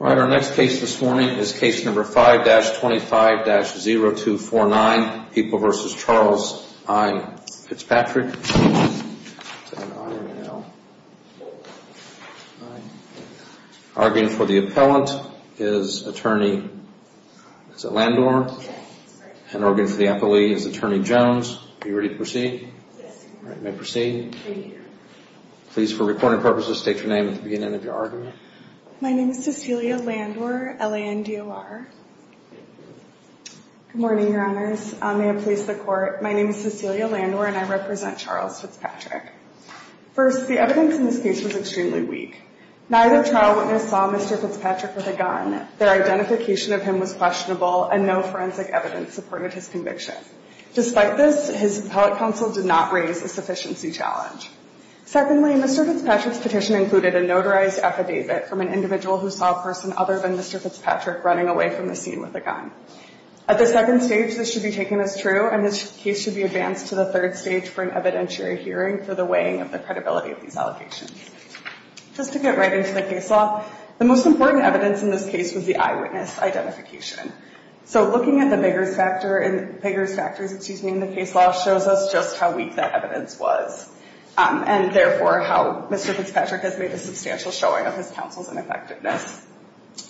All right, our next case this morning is case number 5-25-0249, People v. Charles. I'm Fitzpatrick. Arguing for the appellant is attorney, is it Landor? Yes. And arguing for the appellee is attorney Jones. Are you ready to proceed? Yes. All right, you may proceed. Thank you. Please, for reporting purposes, state your name at the beginning of your argument. My name is Cecilia Landor, L-A-N-D-O-R. Good morning, Your Honors. May it please the Court, my name is Cecilia Landor and I represent Charles Fitzpatrick. First, the evidence in this case was extremely weak. Neither trial witness saw Mr. Fitzpatrick with a gun, their identification of him was questionable, and no forensic evidence supported his conviction. Despite this, his appellate counsel did not raise a sufficiency challenge. Secondly, Mr. Fitzpatrick's petition included a notarized affidavit from an individual who saw a person other than Mr. Fitzpatrick running away from the scene with a gun. At the second stage, this should be taken as true, and this case should be advanced to the third stage for an evidentiary hearing for the weighing of the credibility of these allegations. Just to get right into the case law, the most important evidence in this case was the eyewitness identification. So looking at the Biggers factors in the case law shows us just how weak that evidence was, and therefore how Mr. Fitzpatrick has made a substantial showing of his counsel's ineffectiveness.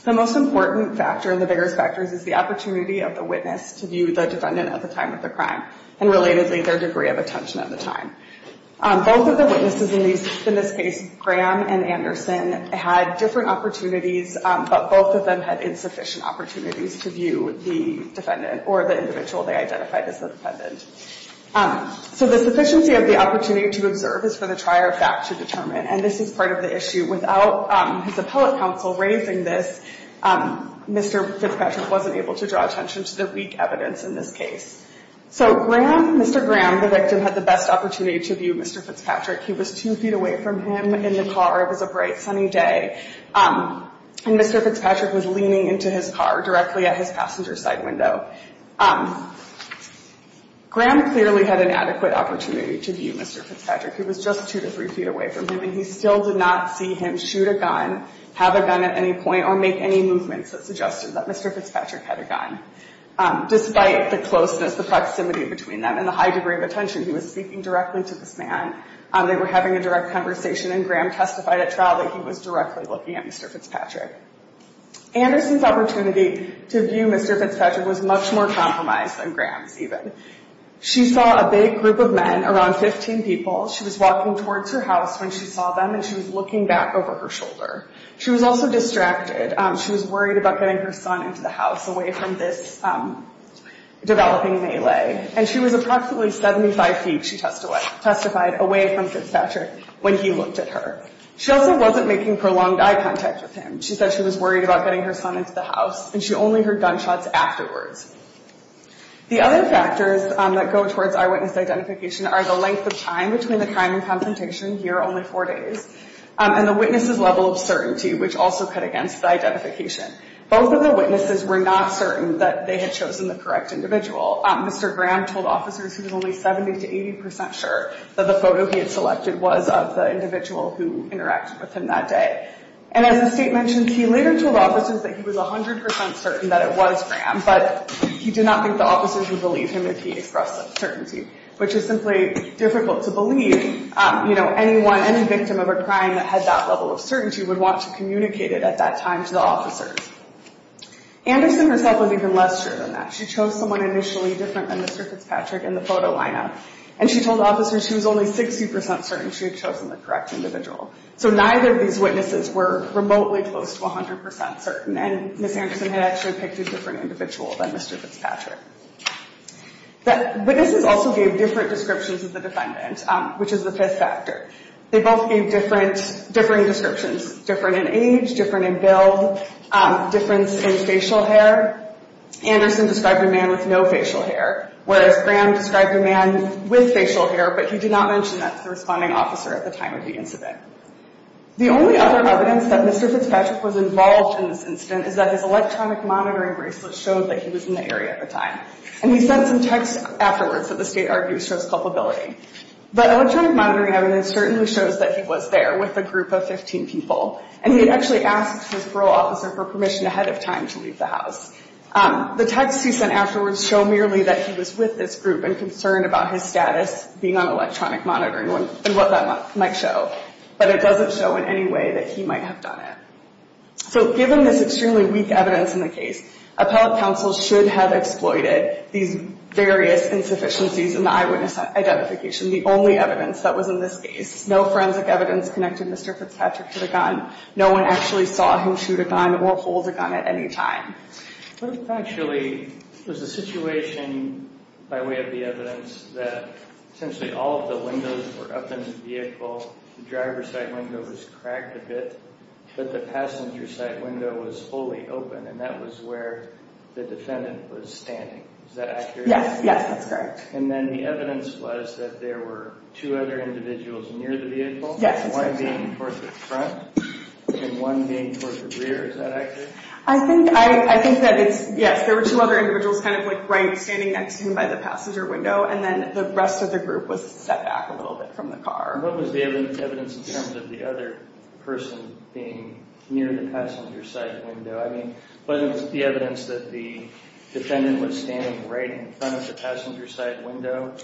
The most important factor in the Biggers factors is the opportunity of the witness to view the defendant at the time of the crime, and relatedly, their degree of attention at the time. Both of the witnesses in this case, Graham and Anderson, had different opportunities, but both of them had insufficient opportunities to view the defendant or the individual they identified as the defendant. So the sufficiency of the opportunity to observe is for the trier of fact to determine, and this is part of the issue. Without his appellate counsel raising this, Mr. Fitzpatrick wasn't able to draw attention to the weak evidence in this case. So Graham, Mr. Graham, the victim, had the best opportunity to view Mr. Fitzpatrick. He was two feet away from him in the car. It was a bright, sunny day. And Mr. Fitzpatrick was leaning into his car directly at his passenger side window. Graham clearly had an adequate opportunity to view Mr. Fitzpatrick. He was just two to three feet away from him, and he still did not see him shoot a gun, have a gun at any point, or make any movements that suggested that Mr. Fitzpatrick had a gun. Despite the closeness, the proximity between them, and the high degree of attention he was seeking directly to this man, they were having a direct conversation, and Graham testified at trial that he was directly looking at Mr. Fitzpatrick. Anderson's opportunity to view Mr. Fitzpatrick was much more compromised than Graham's even. She saw a big group of men, around 15 people. She was walking towards her house when she saw them, and she was looking back over her shoulder. She was also distracted. She was worried about getting her son into the house away from this developing melee. And she was approximately 75 feet, she testified, away from Fitzpatrick when he looked at her. She also wasn't making prolonged eye contact with him. She said she was worried about getting her son into the house, and she only heard gunshots afterwards. The other factors that go towards eyewitness identification are the length of time between the crime and confrontation, here only four days, and the witness's level of certainty, which also cut against the identification. Both of the witnesses were not certain that they had chosen the correct individual. Mr. Graham told officers he was only 70% to 80% sure that the photo he had selected was of the individual who interacted with him that day. And as the state mentions, he later told officers that he was 100% certain that it was Graham, but he did not think the officers would believe him if he expressed that certainty, which is simply difficult to believe, you know, anyone, any victim of a crime that had that level of certainty would want to communicate it at that time to the officers. Anderson herself was even less sure than that. She chose someone initially different than Mr. Fitzpatrick in the photo lineup, and she told officers she was only 60% certain she had chosen the correct individual. So neither of these witnesses were remotely close to 100% certain, and Ms. Anderson had actually picked a different individual than Mr. Fitzpatrick. Witnesses also gave different descriptions of the defendant, which is the fifth factor. They both gave differing descriptions, different in age, different in build, difference in facial hair. Anderson described a man with no facial hair, whereas Graham described a man with facial hair, but he did not mention that to the responding officer at the time of the incident. The only other evidence that Mr. Fitzpatrick was involved in this incident is that his electronic monitoring bracelet showed that he was in the area at the time, and he sent some text afterwards that the state argues shows culpability. But electronic monitoring evidence certainly shows that he was there with a group of 15 people, and he had actually asked his parole officer for permission ahead of time to leave the house. The texts he sent afterwards show merely that he was with this group and concerned about his status being on electronic monitoring and what that might show, but it doesn't show in any way that he might have done it. So given this extremely weak evidence in the case, appellate counsel should have exploited these various insufficiencies in the eyewitness identification, the only evidence that was in this case. No forensic evidence connected Mr. Fitzpatrick to the gun. No one actually saw him shoot a gun or hold a gun at any time. What if actually it was a situation by way of the evidence that essentially all of the windows were up in the vehicle, the driver's side window was cracked a bit, but the passenger side window was fully open, and that was where the defendant was standing. Is that accurate? Yes, yes, that's correct. And then the evidence was that there were two other individuals near the vehicle? Yes, that's correct. One being towards the front and one being towards the rear. Is that accurate? I think that it's, yes, there were two other individuals kind of like right standing next to him by the passenger window, and then the rest of the group was set back a little bit from the car. What was the evidence in terms of the other person being near the passenger side window? I mean, was it the evidence that the defendant was standing right in front of the passenger side window?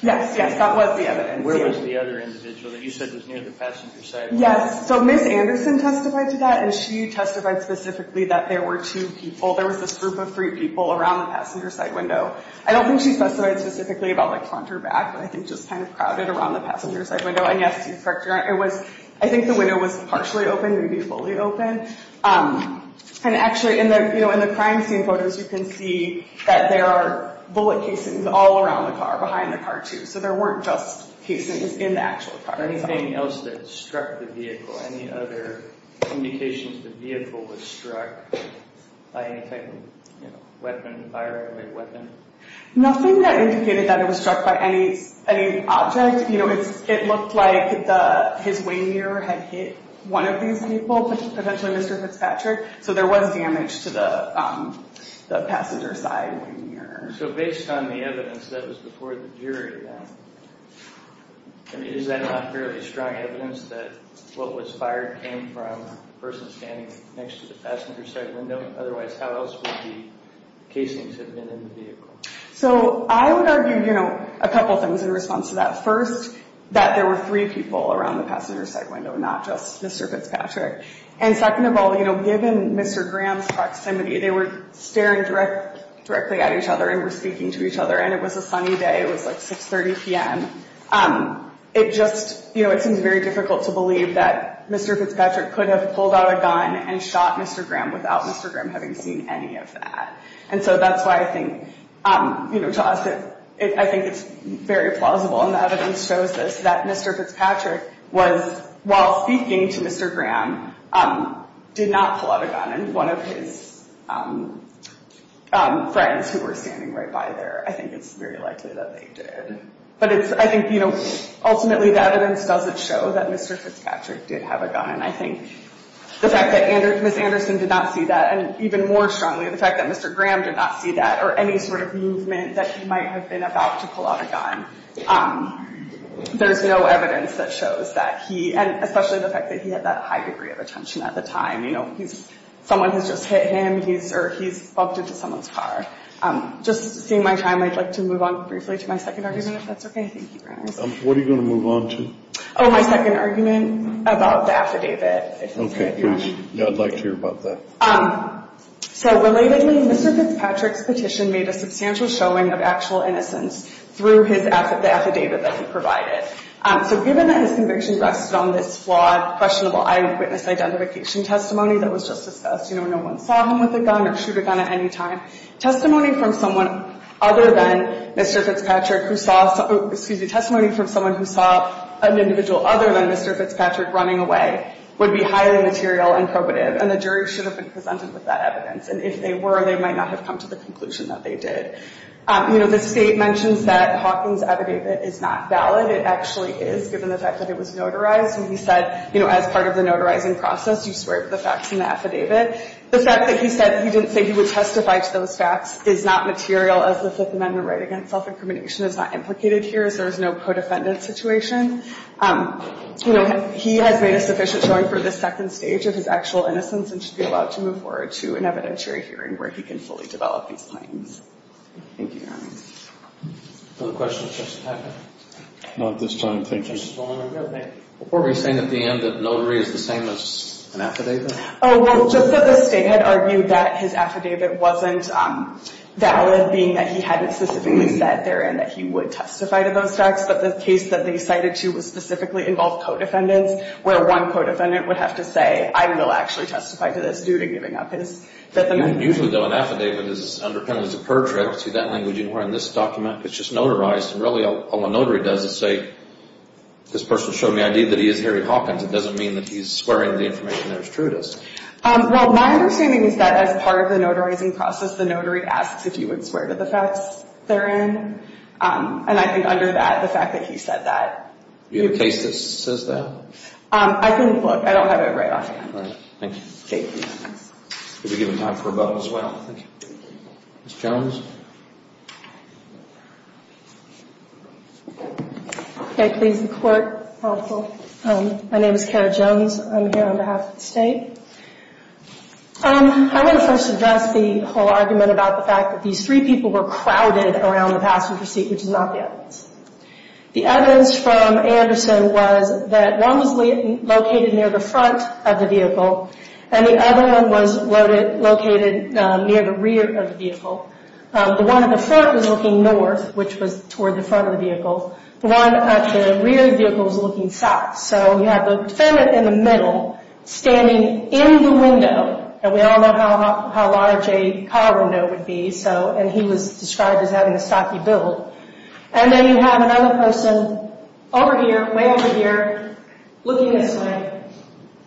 Yes, yes, that was the evidence. And where was the other individual that you said was near the passenger side window? Yes, so Ms. Anderson testified to that, and she testified specifically that there were two people, there was this group of three people around the passenger side window. I don't think she testified specifically about like front or back, but I think just kind of crowded around the passenger side window, and yes, you're correct, I think the window was partially open, maybe fully open. And actually, in the crime scene photos, you can see that there are bullet casings all around the car, behind the car too, so there weren't just casings in the actual car. Anything else that struck the vehicle? Any other indications the vehicle was struck by any type of weapon, firearm or weapon? Nothing that indicated that it was struck by any object. You know, it looked like his winger had hit one of these people, potentially Mr. Fitzpatrick, so there was damage to the passenger side winger. So based on the evidence that was before the jury, is that not fairly strong evidence that what was fired came from the person standing next to the passenger side window? Otherwise, how else would the casings have been in the vehicle? So I would argue, you know, a couple things in response to that. First, that there were three people around the passenger side window, not just Mr. Fitzpatrick. And second of all, you know, given Mr. Graham's proximity, they were staring directly at each other and were speaking to each other, and it was a sunny day, it was like 6.30 p.m. It just, you know, it seems very difficult to believe that Mr. Fitzpatrick could have pulled out a gun and shot Mr. Graham without Mr. Graham having seen any of that. And so that's why I think, you know, to us, I think it's very plausible, and the evidence shows this, that Mr. Fitzpatrick was, while speaking to Mr. Graham, did not pull out a gun in one of his friends who were standing right by there. I think it's very likely that they did. But it's, I think, you know, ultimately the evidence doesn't show that Mr. Fitzpatrick did have a gun, and I think the fact that Ms. Anderson did not see that, and even more strongly the fact that Mr. Graham did not see that, or any sort of movement that he might have been about to pull out a gun, there's no evidence that shows that he, and especially the fact that he had that high degree of attention at the time. You know, someone has just hit him, or he's bumped into someone's car. Just seeing my time, I'd like to move on briefly to my second argument, if that's okay. Thank you, Your Honor. What are you going to move on to? Oh, my second argument about the affidavit. Okay, please. Yeah, I'd like to hear about that. So relatedly, Mr. Fitzpatrick's petition made a substantial showing of actual innocence through the affidavit that he provided. So given that his conviction rested on this flawed, questionable eyewitness identification testimony that was just discussed, you know, no one saw him with a gun or shoot a gun at any time, testimony from someone other than Mr. Fitzpatrick who saw, excuse me, testimony from someone who saw an individual other than Mr. Fitzpatrick running away would be highly material and probative. And the jury should have been presented with that evidence. And if they were, they might not have come to the conclusion that they did. You know, the State mentions that Hawking's affidavit is not valid. It actually is, given the fact that it was notarized. And he said, you know, as part of the notarizing process, you swear to the facts in the affidavit. The fact that he said he didn't say he would testify to those facts is not material, as the Fifth Amendment right against self-incrimination is not implicated here, as there is no co-defendant situation. You know, he has made a sufficient showing for the second stage of his actual innocence and should be allowed to move forward to an evidentiary hearing where he can fully develop these claims. Thank you, Your Honor. Other questions, Justice Packard? Not at this time, thank you. Justice Ballone, are we saying at the end that notary is the same as an affidavit? Oh, well, just that the State had argued that his affidavit wasn't valid, being that he hadn't specifically said therein that he would testify to those facts. But the case that they cited to specifically involved co-defendants, where one co-defendant would have to say, I will actually testify to this, due to giving up his Fifth Amendment right. Usually, though, an affidavit is underpinned as a per trip. See, that language you hear in this document? It's just notarized, and really all a notary does is say, this person showed me ID that he is Harry Hawkins. It doesn't mean that he's swearing the information there is true to us. Well, my understanding is that as part of the notarizing process, the notary asks if you would swear to the facts therein. And I think under that, the fact that he said that. Do you have a case that says that? I couldn't look. I don't have it right off hand. All right. Thank you. Thank you. We'll be giving time for a vote as well. Thank you. Ms. Jones? Okay. Please, the Court. My name is Kara Jones. I'm here on behalf of the State. I want to first address the whole argument about the fact that these three people were crowded around the passenger seat, which is not the evidence. The evidence from Anderson was that one was located near the front of the vehicle, and the other one was located near the rear of the vehicle. The one at the front was looking north, which was toward the front of the vehicle. The one at the rear of the vehicle was looking south. So you have the defendant in the middle, standing in the window, and we all know how large a car window would be, and he was described as having a stocky build. And then you have another person over here, way over here, looking this way.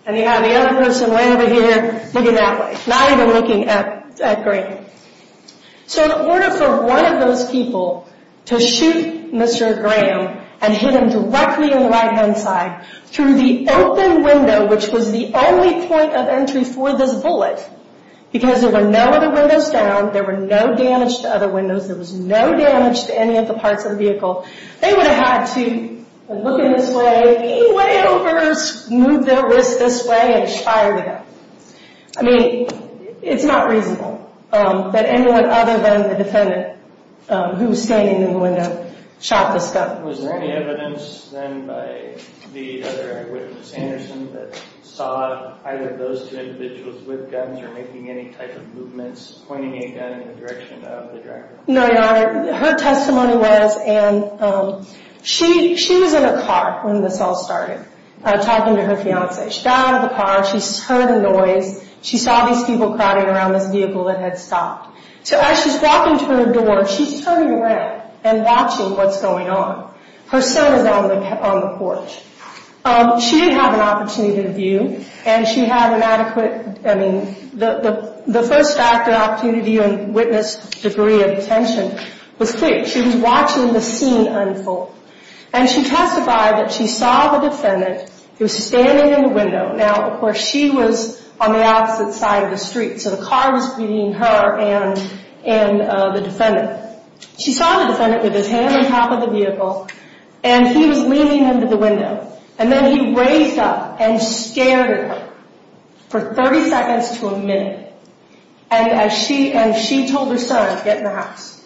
And you have the other person way over here looking that way, not even looking at Graham. So in order for one of those people to shoot Mr. Graham and hit him directly on the right-hand side through the open window, which was the only point of entry for this bullet, because there were no other windows down, there were no damage to other windows, there was no damage to any of the parts of the vehicle, they would have had to look in this way, lean way over, move their wrist this way, and fire the gun. I mean, it's not reasonable that anyone other than the defendant, who was standing in the window, shot this gun. Was there any evidence then by the other witness, Anderson, that saw either those two individuals with guns or making any type of movements, pointing a gun in the direction of the driver? No, Your Honor, her testimony was, and she was in a car when this all started, talking to her fiance. She got out of the car, she heard a noise, she saw these people crowding around this vehicle that had stopped. So as she's walking to her door, she's turning around and watching what's going on. Her son is on the porch. She didn't have an opportunity to view, and she had an adequate, I mean, the first act of opportunity and witness degree of attention was clear. She was watching the scene unfold. And she testified that she saw the defendant, he was standing in the window. Now, of course, she was on the opposite side of the street, so the car was beating her and the defendant. She saw the defendant with his hand on top of the vehicle, and he was leaning into the window. And then he raised up and scared her for 30 seconds to a minute. And she told her son, get in the house.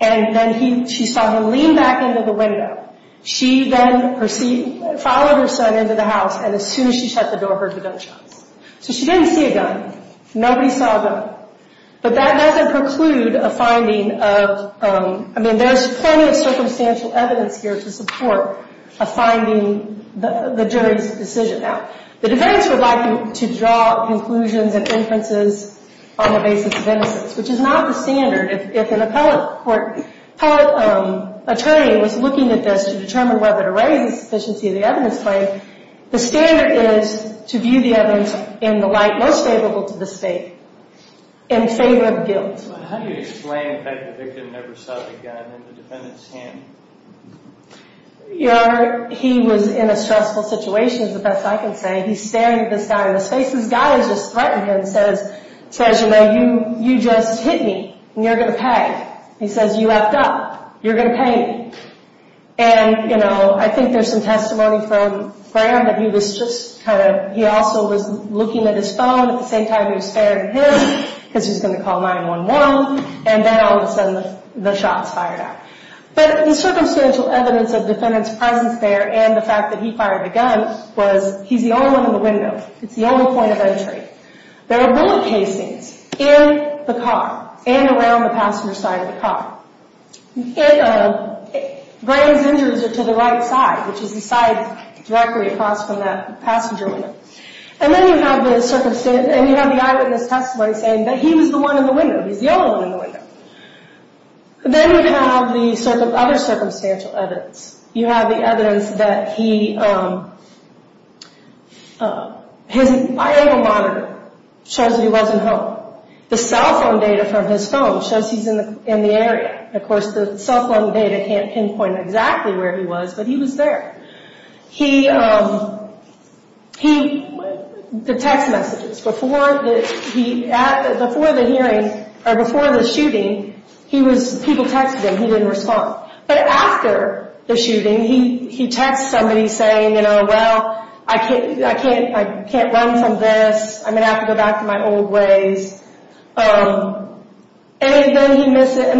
And then she saw him lean back into the window. She then followed her son into the house, and as soon as she shut the door, heard the gunshots. So she didn't see a gun. Nobody saw a gun. But that doesn't preclude a finding of, I mean, there's plenty of circumstantial evidence here to support a finding, the jury's decision. Now, the defense would like to draw conclusions and inferences on the basis of innocence, which is not the standard. If an appellate court, appellate attorney was looking at this to determine whether to raise the sufficiency of the evidence claim, the standard is to view the evidence in the light most favorable to the state in favor of guilt. How do you explain that the victim never saw the gun in the defendant's hand? He was in a stressful situation is the best I can say. He's staring at this guy in the face. This guy has just threatened him and says, you know, you just hit me, and you're going to pay. He says, you effed up. You're going to pay me. And, you know, I think there's some testimony from Graham that he was just kind of, he also was looking at his phone at the same time he was staring at him because he was going to call 911, and then all of a sudden the shot's fired at him. But the circumstantial evidence of the defendant's presence there and the fact that he fired the gun was he's the only one in the window. It's the only point of entry. There are bullet casings in the car and around the passenger side of the car. Graham's injuries are to the right side, which is the side directly across from that passenger window. And then you have the eyewitness testimony saying that he was the one in the window. He's the only one in the window. Then you have the other circumstantial evidence. You have the evidence that his eyeball monitor shows that he wasn't home. The cell phone data from his phone shows he's in the area. Of course, the cell phone data can't pinpoint exactly where he was, but he was there. The text messages. Before the shooting, people texted him. He didn't respond. But after the shooting, he texts somebody saying, you know, well, I can't run from this. I'm going to have to go back to my old ways. And then he missed it.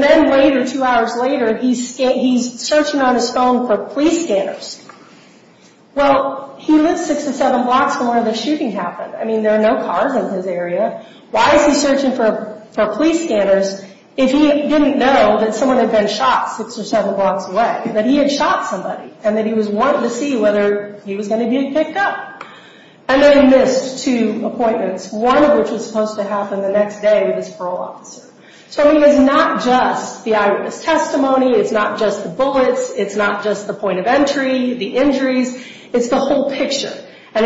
Well, he lived six or seven blocks from where the shooting happened. I mean, there are no cars in his area. Why is he searching for police scanners if he didn't know that someone had been shot six or seven blocks away, that he had shot somebody, and that he was wanting to see whether he was going to be picked up? And then he missed two appointments, one of which was supposed to happen the next day with his parole officer. So he was not just the eyewitness testimony. It's not just the bullets. It's not just the point of entry, the injuries. It's the whole picture. And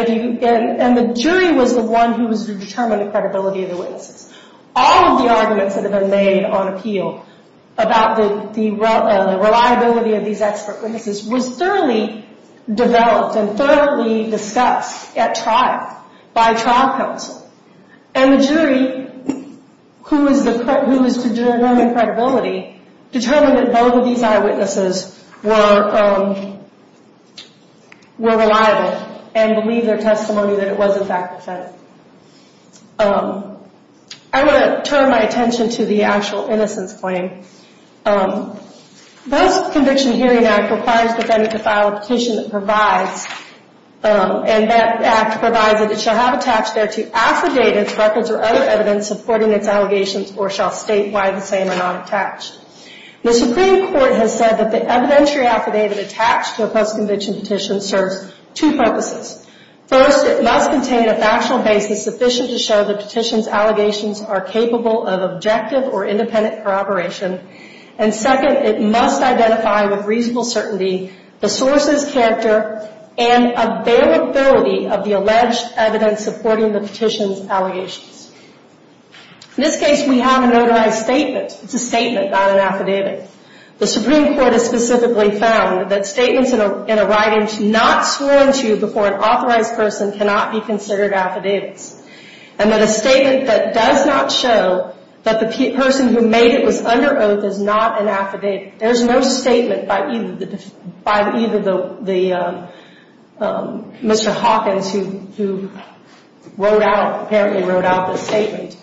the jury was the one who was to determine the credibility of the witnesses. All of the arguments that have been made on appeal about the reliability of these expert witnesses was thoroughly developed and thoroughly discussed at trial by trial counsel. And the jury, who was to determine credibility, determined that both of these eyewitnesses were reliable and believed their testimony that it was in fact authentic. I want to turn my attention to the actual innocence claim. This Conviction Hearing Act requires the defendant to file a petition that provides, it shall have attached thereto affidavits, records, or other evidence supporting its allegations, or shall state why the same are not attached. The Supreme Court has said that the evidentiary affidavit attached to a post-conviction petition serves two purposes. First, it must contain a factual basis sufficient to show the petition's allegations are capable of objective or independent corroboration. And second, it must identify with reasonable certainty the source's character and availability of the alleged evidence supporting the petition's allegations. In this case, we have a notarized statement. It's a statement, not an affidavit. The Supreme Court has specifically found that statements in a writing should not be sworn to before an authorized person cannot be considered affidavits. And that a statement that does not show that the person who made it was under oath is not an affidavit. There's no statement by either the, Mr. Hawkins, who wrote out, apparently wrote out this statement,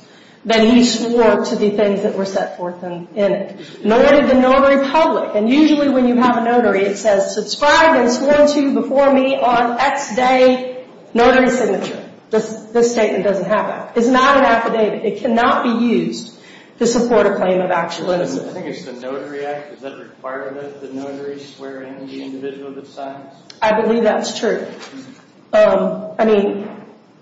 that he swore to the things that were set forth in it. Nor did the notary public. And usually when you have a notary, it says, subscribe as sworn to before me on X day, notary signature. This statement doesn't have that. It's not an affidavit. It cannot be used to support a claim of actual innocence. I think it's the Notary Act. Is that required that the notary swear in the individual that signs? I believe that's true. I mean,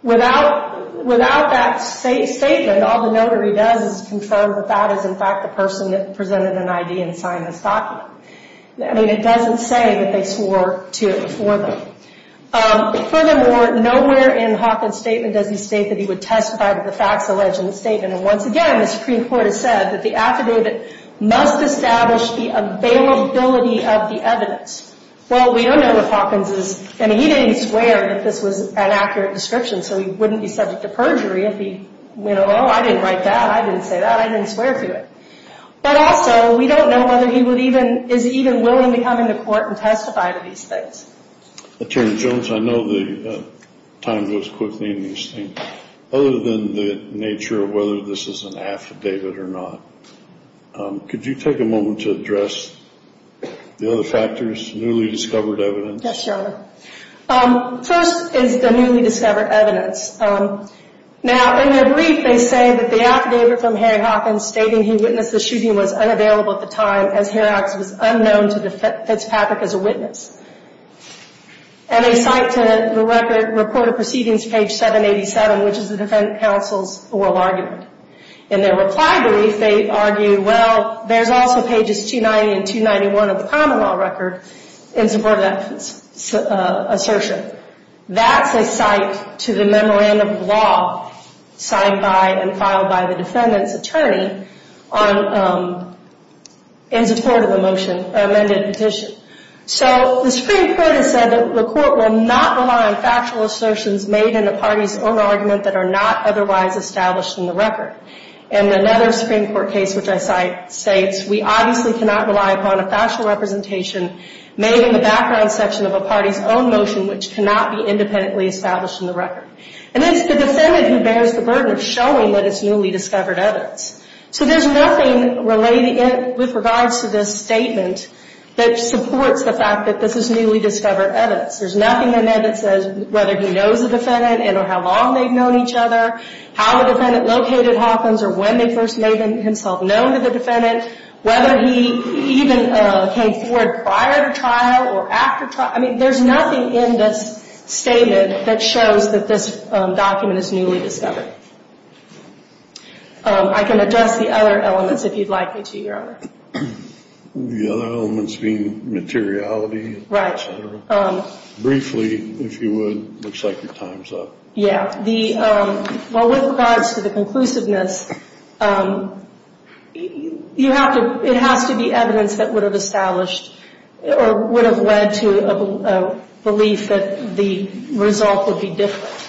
without that statement, all the notary does is confirm that that is, in fact, the person that presented an ID and signed this document. I mean, it doesn't say that they swore to it before them. Furthermore, nowhere in Hawkins' statement does he state that he would testify to the facts alleged in the statement. And once again, the Supreme Court has said that the affidavit must establish the availability of the evidence. Well, we don't know if Hawkins is, I mean, he didn't swear that this was an accurate description, so he wouldn't be subject to perjury if he went, oh, I didn't write that. I didn't say that. I didn't swear to it. But also, we don't know whether he is even willing to come into court and testify to these things. Attorney Jones, I know the time goes quickly in these things. Other than the nature of whether this is an affidavit or not, could you take a moment to address the other factors, newly discovered evidence? Yes, Your Honor. First is the newly discovered evidence. Now, in their brief, they say that the affidavit from Harry Hawkins stating he witnessed the shooting was unavailable at the time, as Harry Hawkins was unknown to Fitzpatrick as a witness. And they cite to the record, reported proceedings, page 787, which is the defense counsel's oral argument. In their reply brief, they argue, well, there's also pages 290 and 291 of the common law record in support of that assertion. That's a cite to the memorandum of law signed by and filed by the defendant's attorney in support of the motion, amended petition. So the Supreme Court has said that the court will not rely on factual assertions made in a party's own argument that are not otherwise established in the record. And another Supreme Court case, which I cite, states, we obviously cannot rely upon a factual representation made in the background section of a party's own motion, which cannot be independently established in the record. And it's the defendant who bears the burden of showing that it's newly discovered evidence. So there's nothing related with regards to this statement that supports the fact that this is newly discovered evidence. There's nothing in there that says whether he knows the defendant and or how long they've known each other, how the defendant located Hawkins or when they first made himself known to the defendant, whether he even came forward prior to trial or after trial. I mean, there's nothing in this statement that shows that this document is newly discovered. I can address the other elements if you'd like me to, Your Honor. The other elements being materiality. Right. Briefly, if you would. Looks like your time's up. Yeah. Well, with regards to the conclusiveness, it has to be evidence that would have established or would have led to a belief that the result would be different.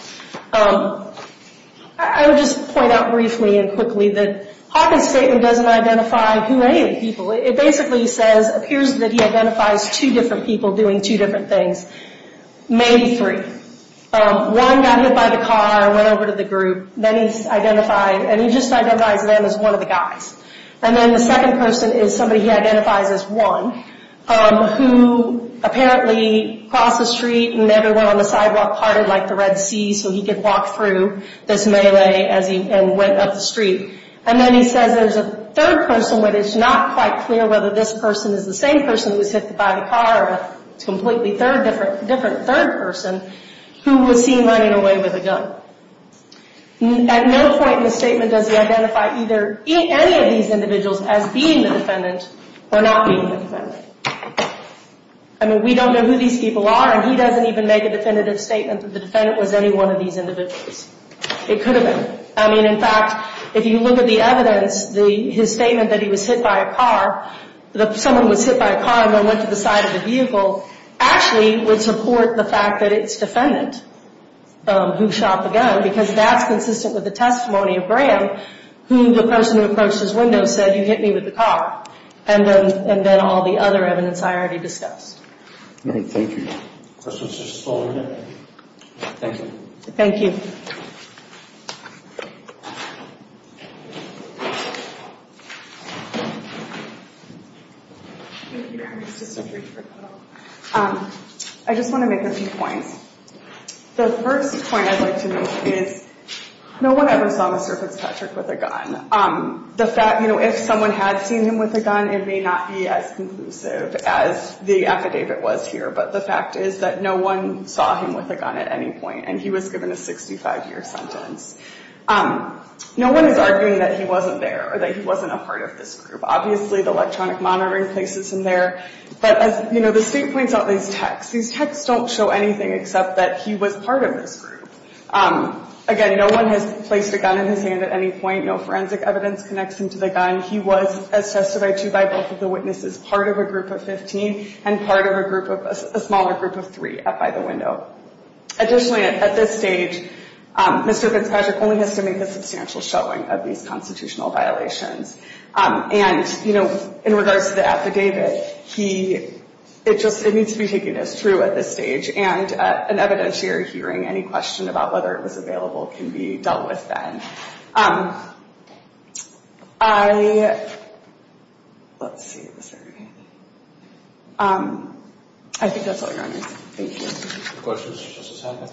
I would just point out briefly and quickly that Hawkins' statement doesn't identify who any of the people. It basically says, appears that he identifies two different people doing two different things, maybe three. One got hit by the car, went over to the group. Then he's identified, and he just identifies them as one of the guys. And then the second person is somebody he identifies as one who apparently crossed the street and everyone on the sidewalk parted like the Red Sea so he could walk through this melee and went up the street. And then he says there's a third person, but it's not quite clear whether this person is the same person who was hit by the car or a completely different third person who was seen running away with a gun. At no point in the statement does he identify either any of these individuals as being the defendant or not being the defendant. I mean, we don't know who these people are, and he doesn't even make a definitive statement that the defendant was any one of these individuals. It could have been. I mean, in fact, if you look at the evidence, his statement that he was hit by a car, that someone was hit by a car and then went to the side of the vehicle, actually would support the fact that it's defendant who shot the gun because that's consistent with the testimony of Graham, who the person who approached his window said, you hit me with the car, and then all the other evidence I already discussed. All right, thank you. Questions for Ms. Fullerton? Thank you. Thank you. I just want to make a few points. The first point I'd like to make is no one ever saw Mr. Fitzpatrick with a gun. If someone had seen him with a gun, it may not be as conclusive as the affidavit was here, but the fact is that no one saw him with a gun at any point, and he was given a 65-year sentence. No one is arguing that he wasn't there or that he wasn't a part of this group. Obviously, the electronic monitoring places him there. But, you know, the state points out these texts. These texts don't show anything except that he was part of this group. Again, no one has placed a gun in his hand at any point. No forensic evidence connects him to the gun. He was, as testified to by both of the witnesses, part of a group of 15 and part of a smaller group of three up by the window. Additionally, at this stage, Mr. Fitzpatrick only has to make a substantial showing of these constitutional violations. And, you know, in regards to the affidavit, it needs to be taken as true at this stage. And at an evidentiary hearing, any question about whether it was available can be dealt with then. I—let's see. I think that's all I got. Thank you. Any questions for Justice Hoppe?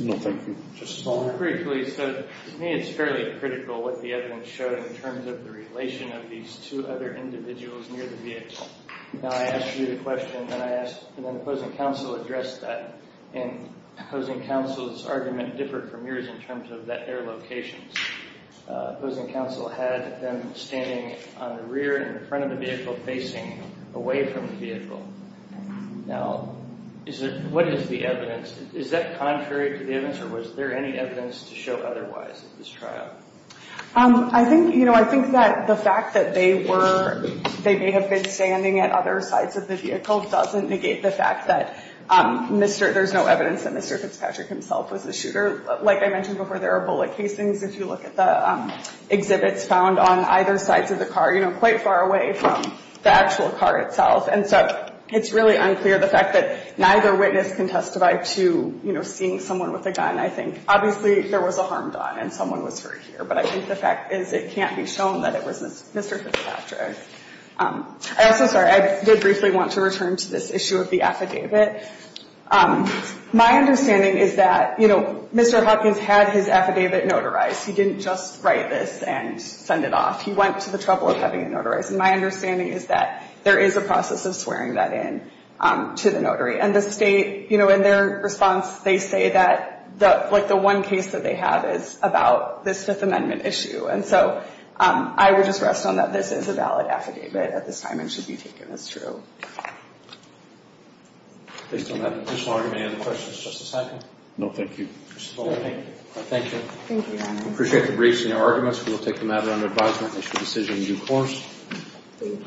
No, thank you. Justice Palmer? Briefly, so to me it's fairly critical what the evidence showed in terms of the relation of these two other individuals near the vehicle. Now, I asked you the question, and then the opposing counsel addressed that. And opposing counsel's argument differed from yours in terms of their locations. Opposing counsel had them standing on the rear and in front of the vehicle, facing away from the vehicle. Now, what is the evidence? Is that contrary to the evidence, or was there any evidence to show otherwise at this trial? I think, you know, I think that the fact that they were— they may have been standing at other sides of the vehicle doesn't negate the fact that there's no evidence that Mr. Fitzpatrick himself was the shooter. Like I mentioned before, there are bullet casings. If you look at the exhibits found on either sides of the car, you know, quite far away from the actual car itself. And so it's really unclear the fact that neither witness can testify to, you know, seeing someone with a gun. I think obviously there was a harm done and someone was hurt here. But I think the fact is it can't be shown that it was Mr. Fitzpatrick. I'm also sorry. I did briefly want to return to this issue of the affidavit. My understanding is that, you know, Mr. Hopkins had his affidavit notarized. He didn't just write this and send it off. He went to the trouble of having it notarized. And my understanding is that there is a process of swearing that in to the notary. And the state, you know, in their response, they say that like the one case that they have is about this Fifth Amendment issue. And so I would just rest on that this is a valid affidavit at this time and should be taken as true. Based on that, Mr. Long, do you have any other questions? Just a second. No, thank you. Thank you. Thank you. We appreciate the briefs and your arguments. We will take the matter under advisement and make the decision in due course.